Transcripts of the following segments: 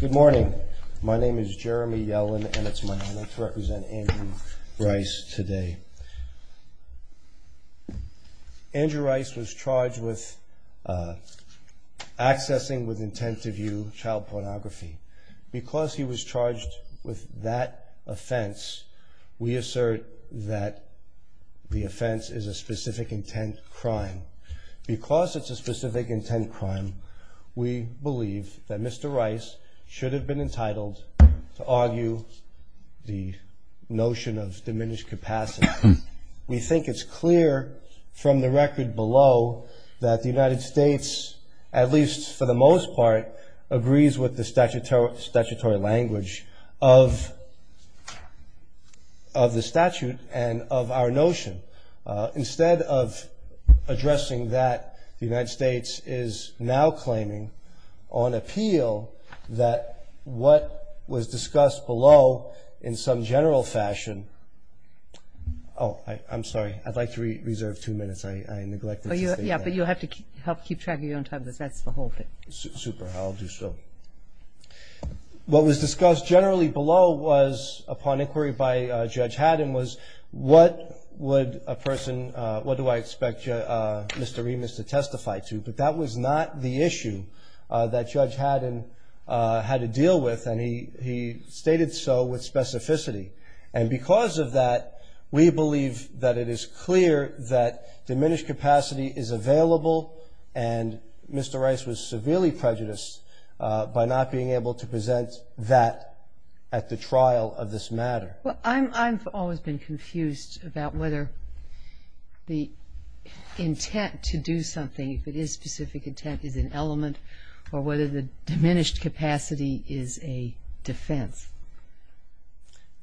Good morning. My name is Jeremy Yellen, and it's my honor to represent Andrew Rice today. Andrew Rice was charged with accessing with intent to view child pornography. Because he was charged with that offense, we assert that the offense is a specific intent crime. Because it's a specific intent crime, we believe that Mr. Rice should have been entitled to argue the notion of diminished capacity. We think it's clear from the record below that the United States, at least for the most part, agrees with the statutory language of the statute and of our notion. Instead of addressing that, the United States is now claiming on appeal that what was discussed below in some general fashion Oh, I'm sorry. I'd like to reserve two minutes. I neglected to say that. Yeah, but you'll have to help keep track of your own time because that's the whole thing. Super. I'll do so. What was discussed generally below was, upon inquiry by Judge Haddon, was what would a person, what do I expect Mr. Remus to testify to? But that was not the issue that Judge Haddon had to deal with, and he stated so with specificity. And because of that, we believe that it is clear that diminished capacity is available, and Mr. Rice was severely prejudiced by not being able to present that at the trial of this matter. Well, I've always been confused about whether the intent to do something, if it is specific intent, is an element, or whether the diminished capacity is a defense.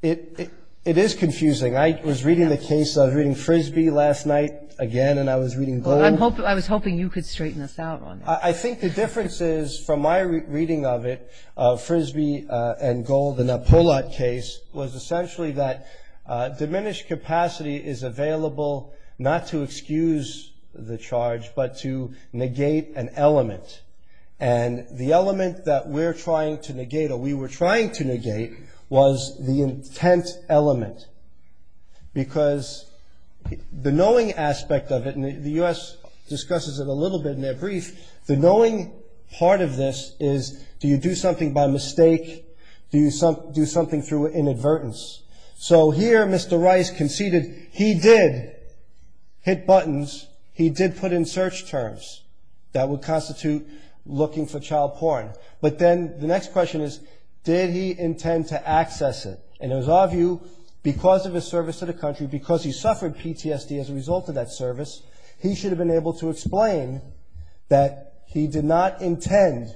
It is confusing. I was reading the case, I was reading Frisbee last night again, and I was reading Gloom. I was hoping you could straighten us out on that. I think the difference is, from my reading of it, Frisbee and Gold, the Napolat case, was essentially that diminished capacity is available not to excuse the charge, but to negate an element. And the element that we're trying to negate, or we were trying to negate, was the intent element. Because the knowing aspect of it, and the U.S. discusses it a little bit in their brief, the knowing part of this is, do you do something by mistake, do you do something through inadvertence? So here Mr. Rice conceded he did hit buttons, he did put in search terms. That would constitute looking for child porn. But then the next question is, did he intend to access it? And it was our view, because of his service to the country, because he suffered PTSD as a result of that service, he should have been able to explain that he did not intend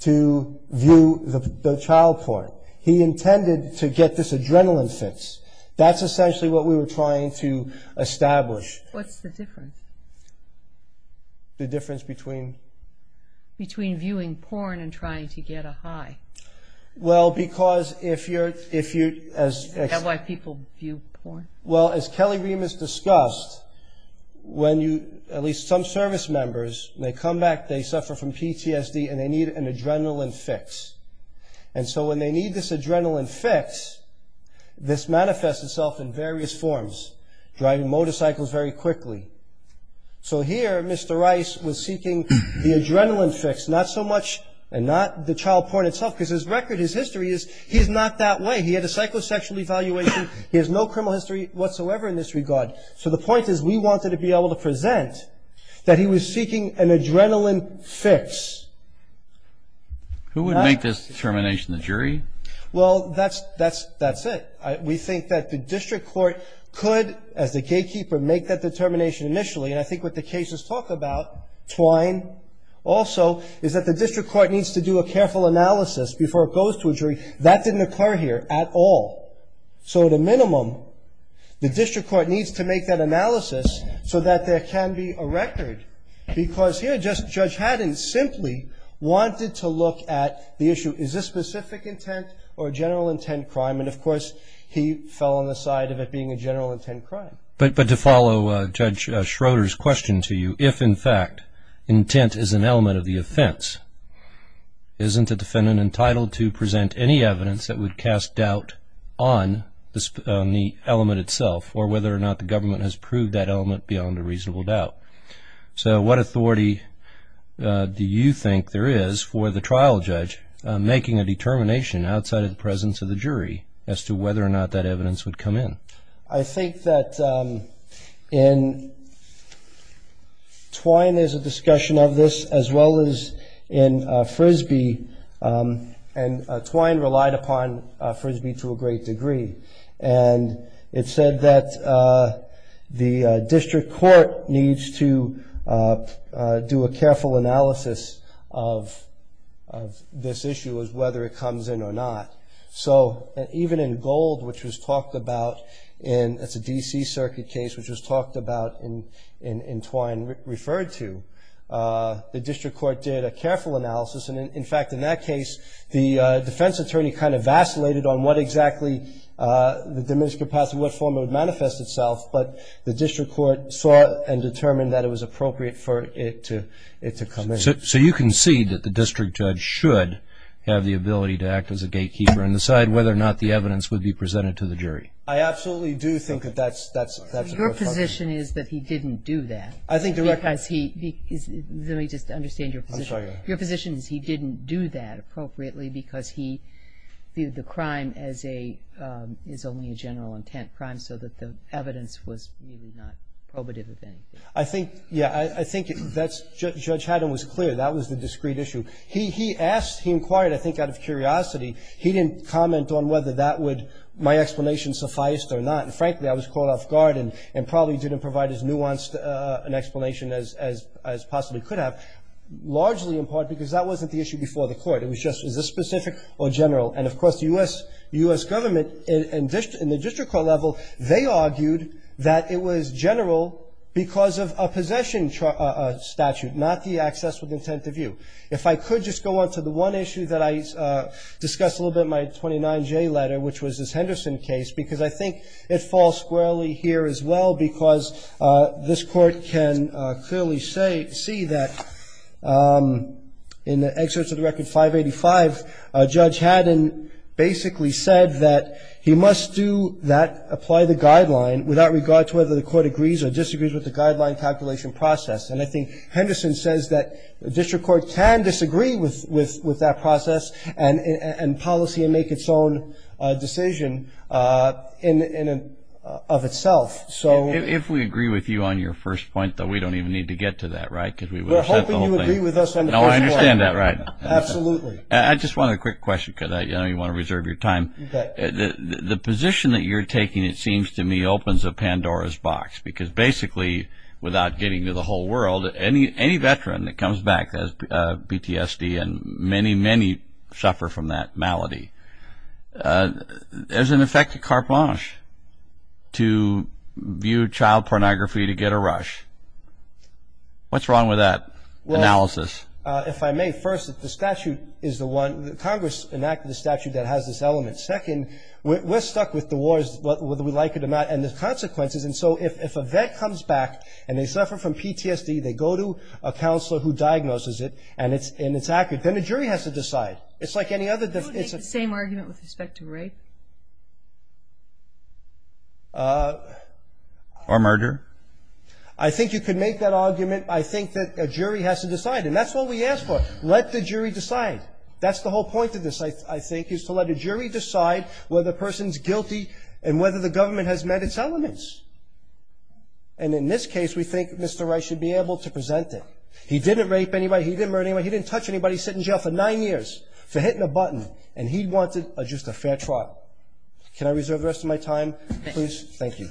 to view the child porn. He intended to get this adrenaline fix. That's essentially what we were trying to establish. What's the difference? The difference between? Between viewing porn and trying to get a high. Well, because if you're... Is that why people view porn? Well, as Kelly Remus discussed, when you, at least some service members, they come back, they suffer from PTSD, and they need an adrenaline fix. And so when they need this adrenaline fix, this manifests itself in various forms. Driving motorcycles very quickly. So here Mr. Rice was seeking the adrenaline fix, not so much, and not the child porn itself, because his record, his history is he's not that way. He had a psychosexual evaluation. He has no criminal history whatsoever in this regard. So the point is we wanted to be able to present that he was seeking an adrenaline fix. Who would make this determination? The jury? Well, that's it. We think that the district court could, as the gatekeeper, make that determination initially. And I think what the cases talk about, twine also, is that the district court needs to do a careful analysis before it goes to a jury. That didn't occur here at all. So at a minimum, the district court needs to make that analysis so that there can be a record. Because here, Judge Haddon simply wanted to look at the issue, is this specific intent or general intent crime? And, of course, he fell on the side of it being a general intent crime. But to follow Judge Schroeder's question to you, if, in fact, intent is an element of the offense, isn't a defendant entitled to present any evidence that would cast doubt on the element itself or whether or not the government has proved that element beyond a reasonable doubt? So what authority do you think there is for the trial judge making a determination outside of the presence of the jury as to whether or not that evidence would come in? I think that in twine there's a discussion of this as well as in Frisbee. And twine relied upon Frisbee to a great degree. And it said that the district court needs to do a careful analysis of this issue as to whether it comes in or not. So even in Gold, which was talked about in a D.C. circuit case, which was talked about in twine and referred to, the district court did a careful analysis. And, in fact, in that case, the defense attorney kind of vacillated on what exactly the diminished capacity, what form it would manifest itself. But the district court saw and determined that it was appropriate for it to come in. So you concede that the district judge should have the ability to act as a gatekeeper and decide whether or not the evidence would be presented to the jury? I absolutely do think that that's a good argument. Your position is that he didn't do that. Let me just understand your position. Your position is he didn't do that appropriately because he viewed the crime as only a general intent crime so that the evidence was really not probative of anything. I think, yeah, I think Judge Haddon was clear. That was the discrete issue. He inquired, I think, out of curiosity. He didn't comment on whether my explanation sufficed or not. And, frankly, I was caught off guard and probably didn't provide as nuanced an explanation as possibly could have. Largely, in part, because that wasn't the issue before the court. It was just, is this specific or general? And, of course, the U.S. government in the district court level, they argued that it was general because of a possession statute, not the access with intent to view. If I could just go on to the one issue that I discussed a little bit in my 29J letter, which was this Henderson case, because I think it falls squarely here as well because this court can clearly see that in the excerpts of the record 585, Judge Haddon basically said that he must do that, apply the guideline without regard to whether the court agrees or disagrees with the guideline calculation process. And I think Henderson says that the district court can disagree with that process and policy and make its own decision of itself. If we agree with you on your first point, though, we don't even need to get to that, right? We're hoping you agree with us on the first point. No, I understand that, right. Absolutely. I just wanted a quick question because I know you want to reserve your time. The position that you're taking, it seems to me, opens a Pandora's box because basically, without getting to the whole world, any veteran that comes back as PTSD and many, many suffer from that malady, there's an effect of carte blanche to view child pornography to get a rush. What's wrong with that analysis? Well, if I may, first, the statute is the one. Congress enacted the statute that has this element. Second, we're stuck with the wars, whether we like it or not, and the consequences. And so if a vet comes back and they suffer from PTSD, they go to a counselor who diagnoses it and it's accurate, then the jury has to decide. It's like any other defense. Would you make the same argument with respect to rape? Or murder? I think you could make that argument. I think that a jury has to decide, and that's what we ask for. Let the jury decide. That's the whole point of this, I think, is to let a jury decide whether a person's guilty and whether the government has met its elements. And in this case, we think Mr. Wright should be able to present it. He didn't rape anybody. He didn't murder anybody. He didn't touch anybody. He's sitting in jail for nine years for hitting a button, and he wanted just a fair trial. Can I reserve the rest of my time, please? Thank you.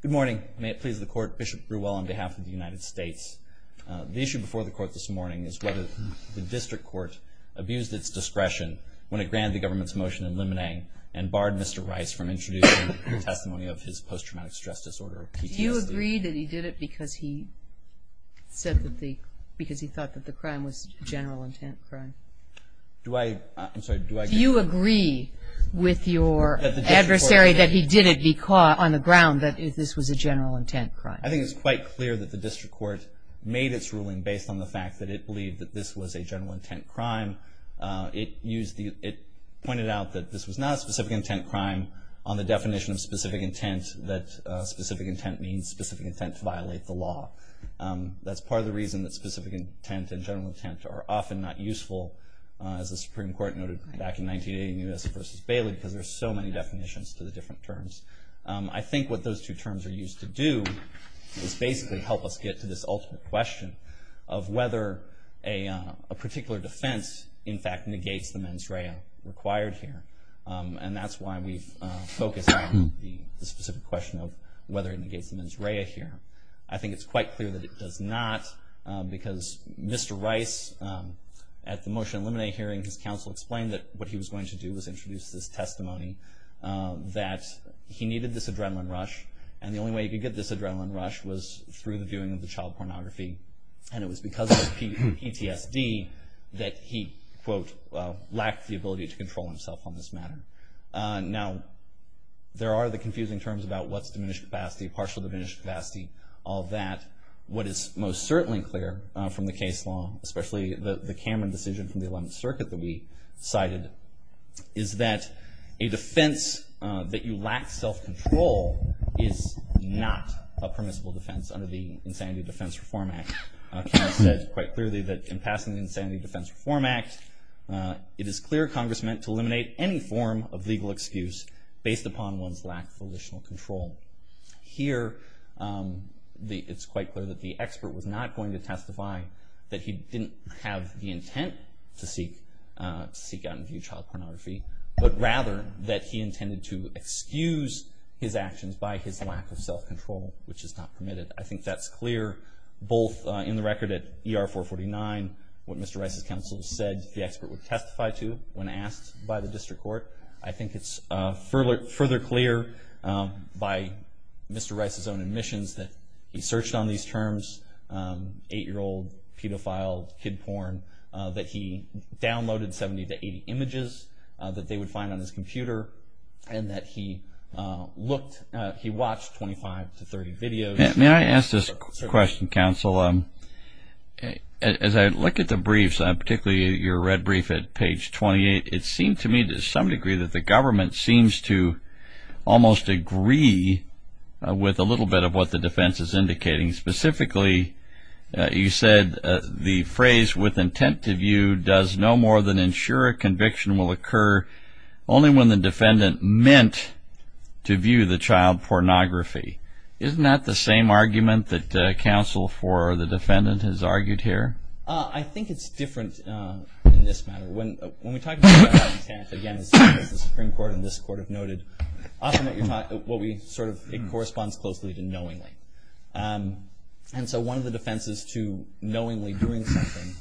Good morning. May it please the Court, Bishop Brewell on behalf of the United States. The issue before the Court this morning is whether the District Court abused its discretion when it granted the government's motion in Lemonet and barred Mr. Rice from introducing a testimony of his post-traumatic stress disorder or PTSD. Do you agree that he did it because he said that the crime was a general intent crime? Do I? I'm sorry, do I? Do you agree with your adversary that he did it on the ground that this was a general intent crime? I think it's quite clear that the District Court made its ruling based on the fact that it believed that this was a general intent crime. It pointed out that this was not a specific intent crime on the definition of specific intent, that specific intent means specific intent to violate the law. That's part of the reason that specific intent and general intent are often not useful, as the Supreme Court noted back in 1980 in U.S. v. Bailey, because there are so many definitions to the different terms. I think what those two terms are used to do is basically help us get to this ultimate question of whether a particular defense, in fact, negates the mens rea required here. And that's why we've focused on the specific question of whether it negates the mens rea here. I think it's quite clear that it does not, because Mr. Rice, at the Motion to Eliminate hearing, his counsel explained that what he was going to do was introduce this testimony that he needed this adrenaline rush, and the only way he could get this adrenaline rush was through the viewing of the child pornography, and it was because of his PTSD that he, quote, lacked the ability to control himself on this matter. Now, there are the confusing terms about what's diminished capacity, partial diminished capacity, all that. What is most certainly clear from the case law, especially the Cameron decision from the 11th Circuit that we cited, is that a defense that you lack self-control is not a permissible defense under the Insanity Defense Reform Act. Cameron said quite clearly that, in passing the Insanity Defense Reform Act, it is clear Congress meant to eliminate any form of legal excuse based upon one's lack of volitional control. Here, it's quite clear that the expert was not going to testify that he didn't have the intent to seek out and view child pornography, but rather that he intended to excuse his actions by his lack of self-control, which is not permitted. I think that's clear, both in the record at ER449, what Mr. Rice's counsel said the expert would testify to when asked by the district court. I think it's further clear by Mr. Rice's own admissions that he searched on these terms, 8-year-old, pedophile, kid porn, that he downloaded 70 to 80 images that they would find on his computer and that he watched 25 to 30 videos. May I ask this question, counsel? As I look at the briefs, particularly your red brief at page 28, it seems to me to some degree that the government seems to almost agree with a little bit of what the defense is indicating. Specifically, you said the phrase with intent to view does no more than ensure a conviction will occur only when the defendant meant to view the child pornography. Isn't that the same argument that counsel for the defendant has argued here? I think it's different in this matter. When we talk about intent, again, as the Supreme Court and this Court have noted, often what we sort of think corresponds closely to knowingly. And so one of the defenses to knowingly doing something,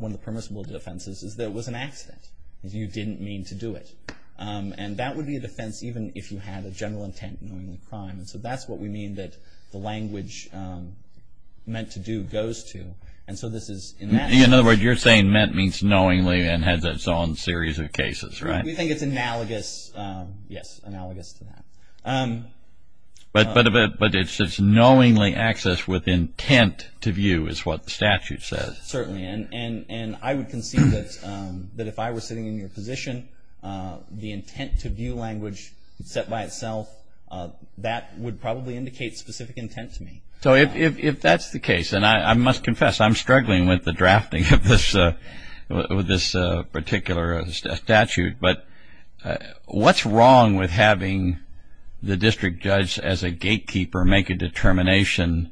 one of the permissible defenses is that it was an accident. You didn't mean to do it. And that would be a defense even if you had a general intent in knowingly crime. So that's what we mean that the language meant to do goes to. In other words, you're saying meant means knowingly and has its own series of cases, right? We think it's analogous, yes, analogous to that. But it's knowingly accessed with intent to view is what the statute says. Certainly. And I would concede that if I were sitting in your position, the intent to view language set by itself, that would probably indicate specific intent to me. So if that's the case, and I must confess, I'm struggling with the drafting of this particular statute. But what's wrong with having the district judge as a gatekeeper make a determination?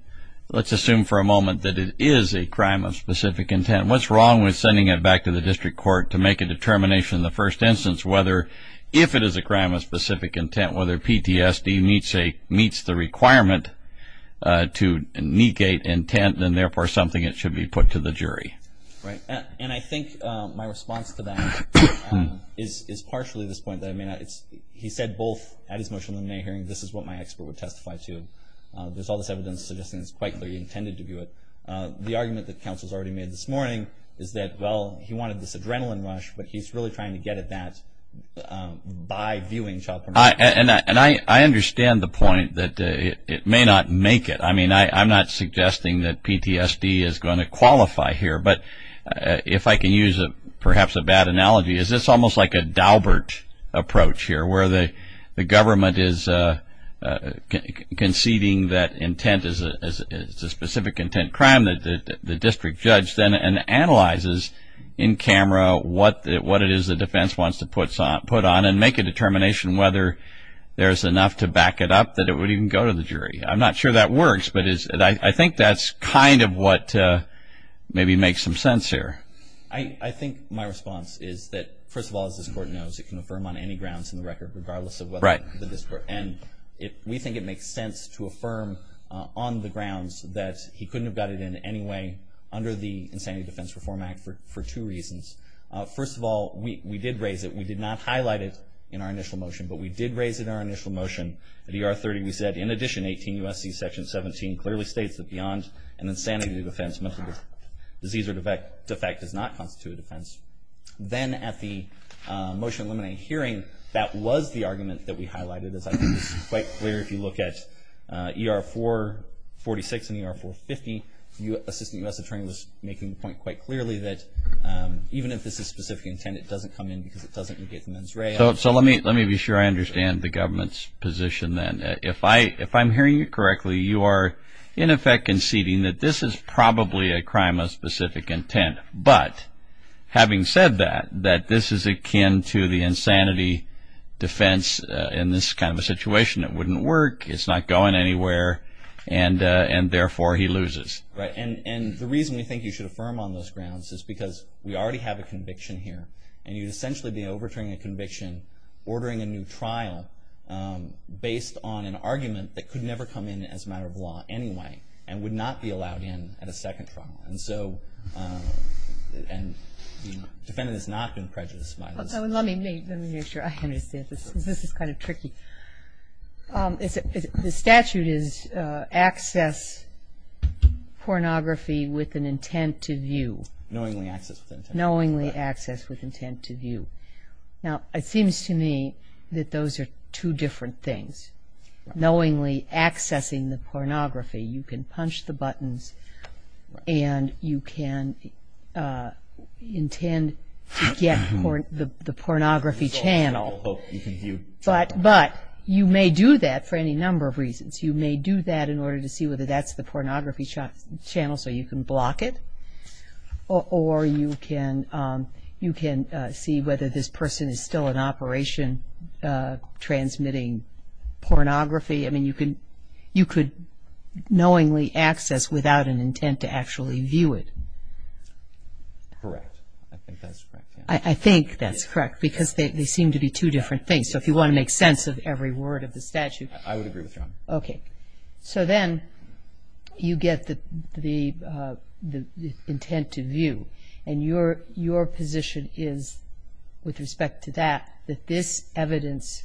Let's assume for a moment that it is a crime of specific intent. What's wrong with sending it back to the district court to make a determination in the first instance whether if it is a crime of specific intent, whether PTSD meets the requirement to negate intent, and therefore something that should be put to the jury? Right. And I think my response to that is partially this point. He said both at his motion in the May hearing, this is what my expert would testify to. There's all this evidence suggesting it's quite clear he intended to view it. The argument that counsel has already made this morning is that, well, he wanted this adrenaline rush, but he's really trying to get at that by viewing child pornography. And I understand the point that it may not make it. I mean, I'm not suggesting that PTSD is going to qualify here. But if I can use perhaps a bad analogy, is this almost like a Daubert approach here, where the government is conceding that intent is a specific intent crime, and then the district judge then analyzes in camera what it is the defense wants to put on and make a determination whether there's enough to back it up that it would even go to the jury. I'm not sure that works, but I think that's kind of what maybe makes some sense here. I think my response is that, first of all, as this Court knows, it can affirm on any grounds in the record, regardless of whether the district. And we think it makes sense to affirm on the grounds that he couldn't have got it in anyway under the Insanity Defense Reform Act for two reasons. First of all, we did raise it. We did not highlight it in our initial motion, but we did raise it in our initial motion. At ER 30, we said, in addition, 18 U.S.C. Section 17 clearly states that beyond an insanity defense, mental disease or defect does not constitute a defense. Then at the motion eliminating hearing, that was the argument that we highlighted. As I think this is quite clear, if you look at ER 446 and ER 450, the Assistant U.S. Attorney was making the point quite clearly that even if this is specific intent, it doesn't come in because it doesn't indicate the mens rea. So let me be sure I understand the government's position then. If I'm hearing you correctly, you are in effect conceding that this is probably a crime of specific intent, but having said that, that this is akin to the insanity defense in this kind of a situation. It wouldn't work. It's not going anywhere, and therefore he loses. Right, and the reason we think you should affirm on those grounds is because we already have a conviction here, and you'd essentially be overturning a conviction, ordering a new trial based on an argument that could never come in as a matter of law anyway and would not be allowed in at a second trial. And so the defendant has not been prejudiced by this. Let me make sure I understand. This is kind of tricky. The statute is access pornography with an intent to view. Knowingly accessed with an intent to view. Knowingly accessed with intent to view. Now, it seems to me that those are two different things. One is knowingly accessing the pornography. You can punch the buttons, and you can intend to get the pornography channel. But you may do that for any number of reasons. You may do that in order to see whether that's the pornography channel so you can block it, or you can see whether this person is still in operation transmitting pornography. I mean, you could knowingly access without an intent to actually view it. Correct. I think that's correct. I think that's correct because they seem to be two different things. So if you want to make sense of every word of the statute. I would agree with you on that. Okay. So then you get the intent to view, and your position is, with respect to that, that this evidence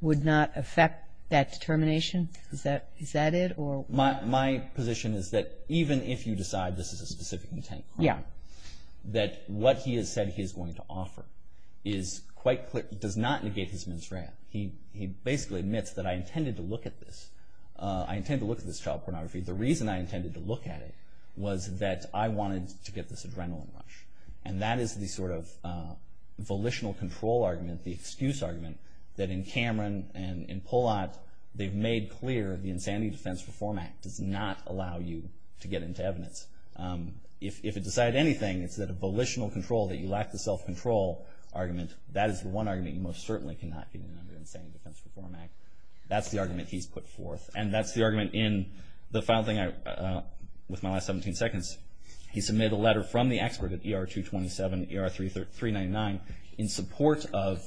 would not affect that determination? Is that it? My position is that even if you decide this is a specific intent crime, that what he has said he is going to offer is quite clear. He does not negate his misread. He basically admits that I intended to look at this. I intended to look at this child pornography. The reason I intended to look at it was that I wanted to get this adrenaline rush. And that is the sort of volitional control argument, the excuse argument, that in Cameron and in Pollat they've made clear the Insanity Defense Reform Act does not allow you to get into evidence. If it decided anything, it's that a volitional control, that you lack the self-control argument, that is the one argument you most certainly cannot get in under Insanity Defense Reform Act. That's the argument he's put forth, and that's the argument in the final thing with my last 17 seconds. He submitted a letter from the expert at ER-227, ER-399, in support of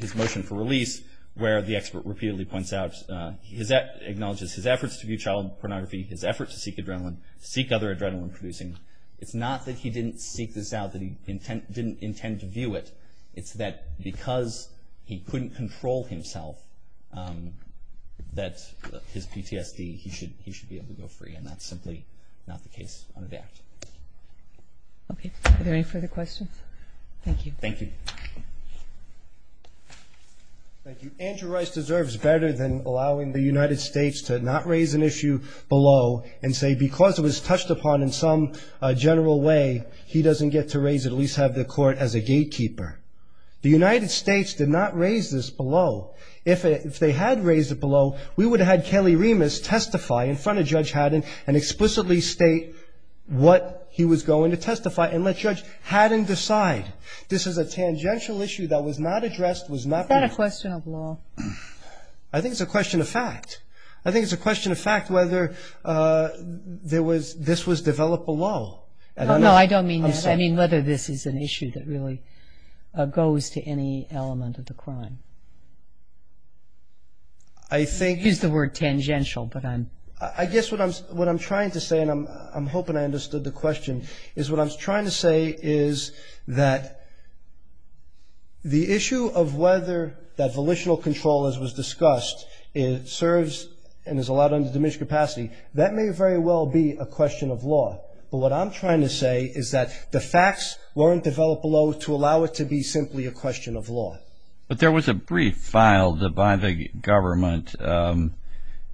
his motion for release, where the expert repeatedly points out, acknowledges his efforts to view child pornography, his efforts to seek adrenaline, seek other adrenaline producing. It's not that he didn't seek this out, that he didn't intend to view it. It's that because he couldn't control himself, that his PTSD, he should be able to go free, and that's simply not the case under the Act. Okay. Are there any further questions? Thank you. Thank you. Thank you. Andrew Rice deserves better than allowing the United States to not raise an issue below and say because it was touched upon in some general way, he doesn't get to raise it, at least have the Court as a gatekeeper. The United States did not raise this below. If they had raised it below, we would have had Kelly Remus testify in front of Judge Haddon and explicitly state what he was going to testify and let Judge Haddon decide. This is a tangential issue that was not addressed, was not raised. Is that a question of law? I think it's a question of fact. I think it's a question of fact whether this was developed below. No, no, I don't mean that. I mean whether this is an issue that really goes to any element of the crime. I think— You used the word tangential, but I'm— I guess what I'm trying to say, and I'm hoping I understood the question, is what I'm trying to say is that the issue of whether that volitional control, as was discussed, serves and is allowed under diminished capacity, that may very well be a question of law. But what I'm trying to say is that the facts weren't developed below to allow it to be simply a question of law. But there was a brief filed by the government,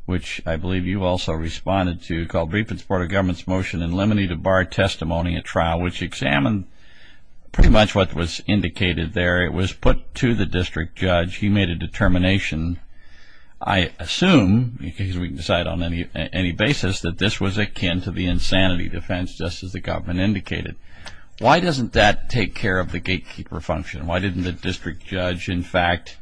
which I believe you also responded to, called Briefing Board of Government's Motion in Lemony to Bar Testimony at Trial, which examined pretty much what was indicated there. It was put to the district judge. He made a determination, I assume, because we can decide on any basis, that this was akin to the insanity defense, just as the government indicated. Why doesn't that take care of the gatekeeper function? Why didn't the district judge, in fact—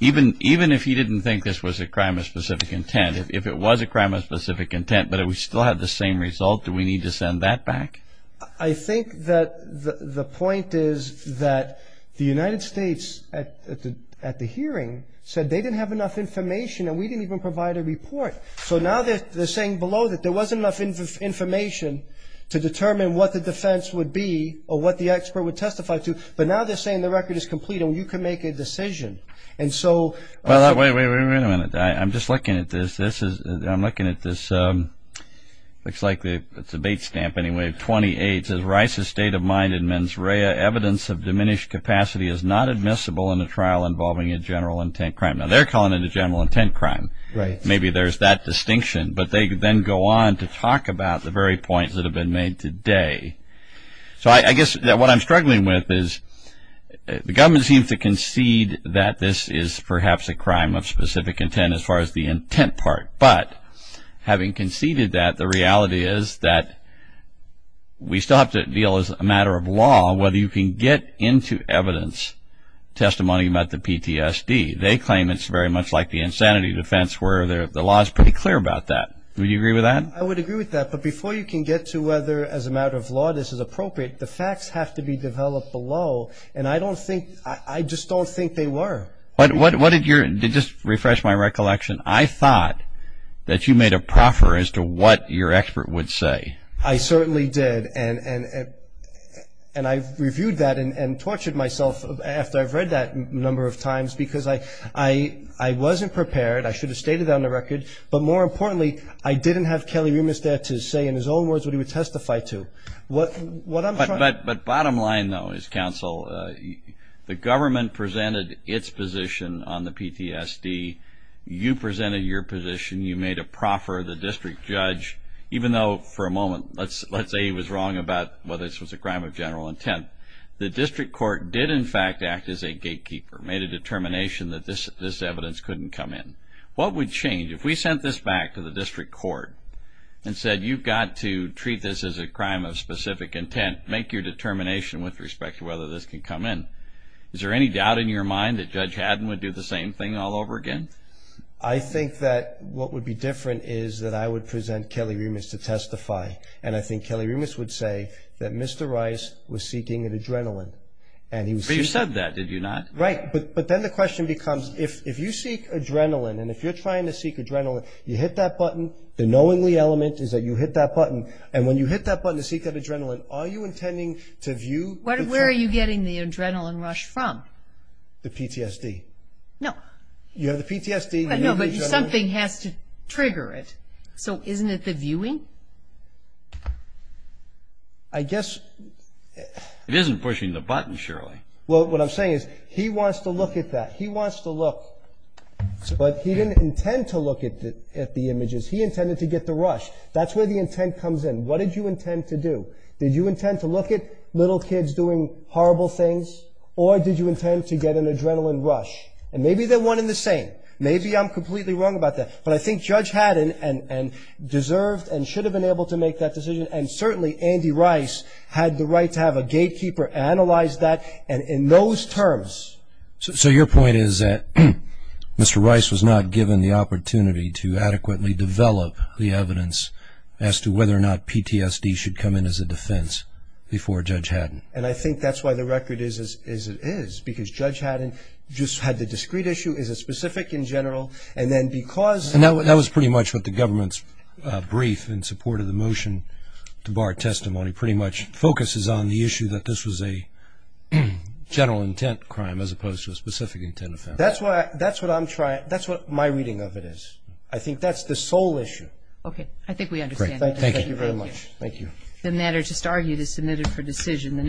even if he didn't think this was a crime of specific intent, if it was a crime of specific intent but it still had the same result, do we need to send that back? I think that the point is that the United States, at the hearing, said they didn't have enough information and we didn't even provide a report. So now they're saying below that there wasn't enough information to determine what the defense would be or what the expert would testify to, but now they're saying the record is complete and you can make a decision. And so— Wait a minute. I'm just looking at this. This is—I'm looking at this. Looks like it's a bait stamp anyway. 28 says, Rice's state of mind in mens rea evidence of diminished capacity is not admissible in a trial involving a general intent crime. Now, they're calling it a general intent crime. Maybe there's that distinction, but they then go on to talk about the very points that have been made today. So I guess what I'm struggling with is the government seems to concede that this is perhaps a crime of specific intent as far as the intent part, but having conceded that, the reality is that we still have to deal as a matter of law whether you can get into evidence testimony about the PTSD. They claim it's very much like the insanity defense where the law is pretty clear about that. Would you agree with that? I would agree with that, but before you can get to whether as a matter of law this is appropriate, the facts have to be developed below, and I just don't think they were. To just refresh my recollection, I thought that you made a proffer as to what your expert would say. I certainly did, and I've reviewed that and tortured myself after I've read that a number of times because I wasn't prepared. I should have stated that on the record. But more importantly, I didn't have Kelly Rumis there to say in his own words what he would testify to. But bottom line, though, is, counsel, the government presented its position on the PTSD. You presented your position. You made a proffer. The district judge, even though for a moment, let's say he was wrong about whether this was a crime of general intent, the district court did in fact act as a gatekeeper, made a determination that this evidence couldn't come in. What would change? If we sent this back to the district court and said, you've got to treat this as a crime of specific intent, make your determination with respect to whether this can come in, is there any doubt in your mind that Judge Haddon would do the same thing all over again? I think that what would be different is that I would present Kelly Rumis to testify, and I think Kelly Rumis would say that Mr. Rice was seeking an adrenaline. But you said that, did you not? Right. But then the question becomes, if you seek adrenaline and if you're trying to seek adrenaline, you hit that button, the knowingly element is that you hit that button, and when you hit that button to seek that adrenaline, are you intending to view? Where are you getting the adrenaline rush from? The PTSD. No. You have the PTSD. No, but something has to trigger it. So isn't it the viewing? I guess. It isn't pushing the button, surely. Well, what I'm saying is he wants to look at that. He wants to look. But he didn't intend to look at the images. He intended to get the rush. That's where the intent comes in. What did you intend to do? Did you intend to look at little kids doing horrible things, or did you intend to get an adrenaline rush? And maybe they're one and the same. Maybe I'm completely wrong about that. But I think Judge Haddon deserved and should have been able to make that decision, and certainly Andy Rice had the right to have a gatekeeper analyze that in those terms. So your point is that Mr. Rice was not given the opportunity to adequately develop the evidence as to whether or not PTSD should come in as a defense before Judge Haddon. And I think that's why the record is as it is, because Judge Haddon just had the discrete issue, is it specific in general, and then because of that. And that was pretty much what the government's brief in support of the motion to bar testimony pretty much focuses on the issue that this was a general intent crime as opposed to a specific intent offense. That's what my reading of it is. I think that's the sole issue. Okay. I think we understand. Thank you very much. Thank you. The matter just argued is submitted for decision.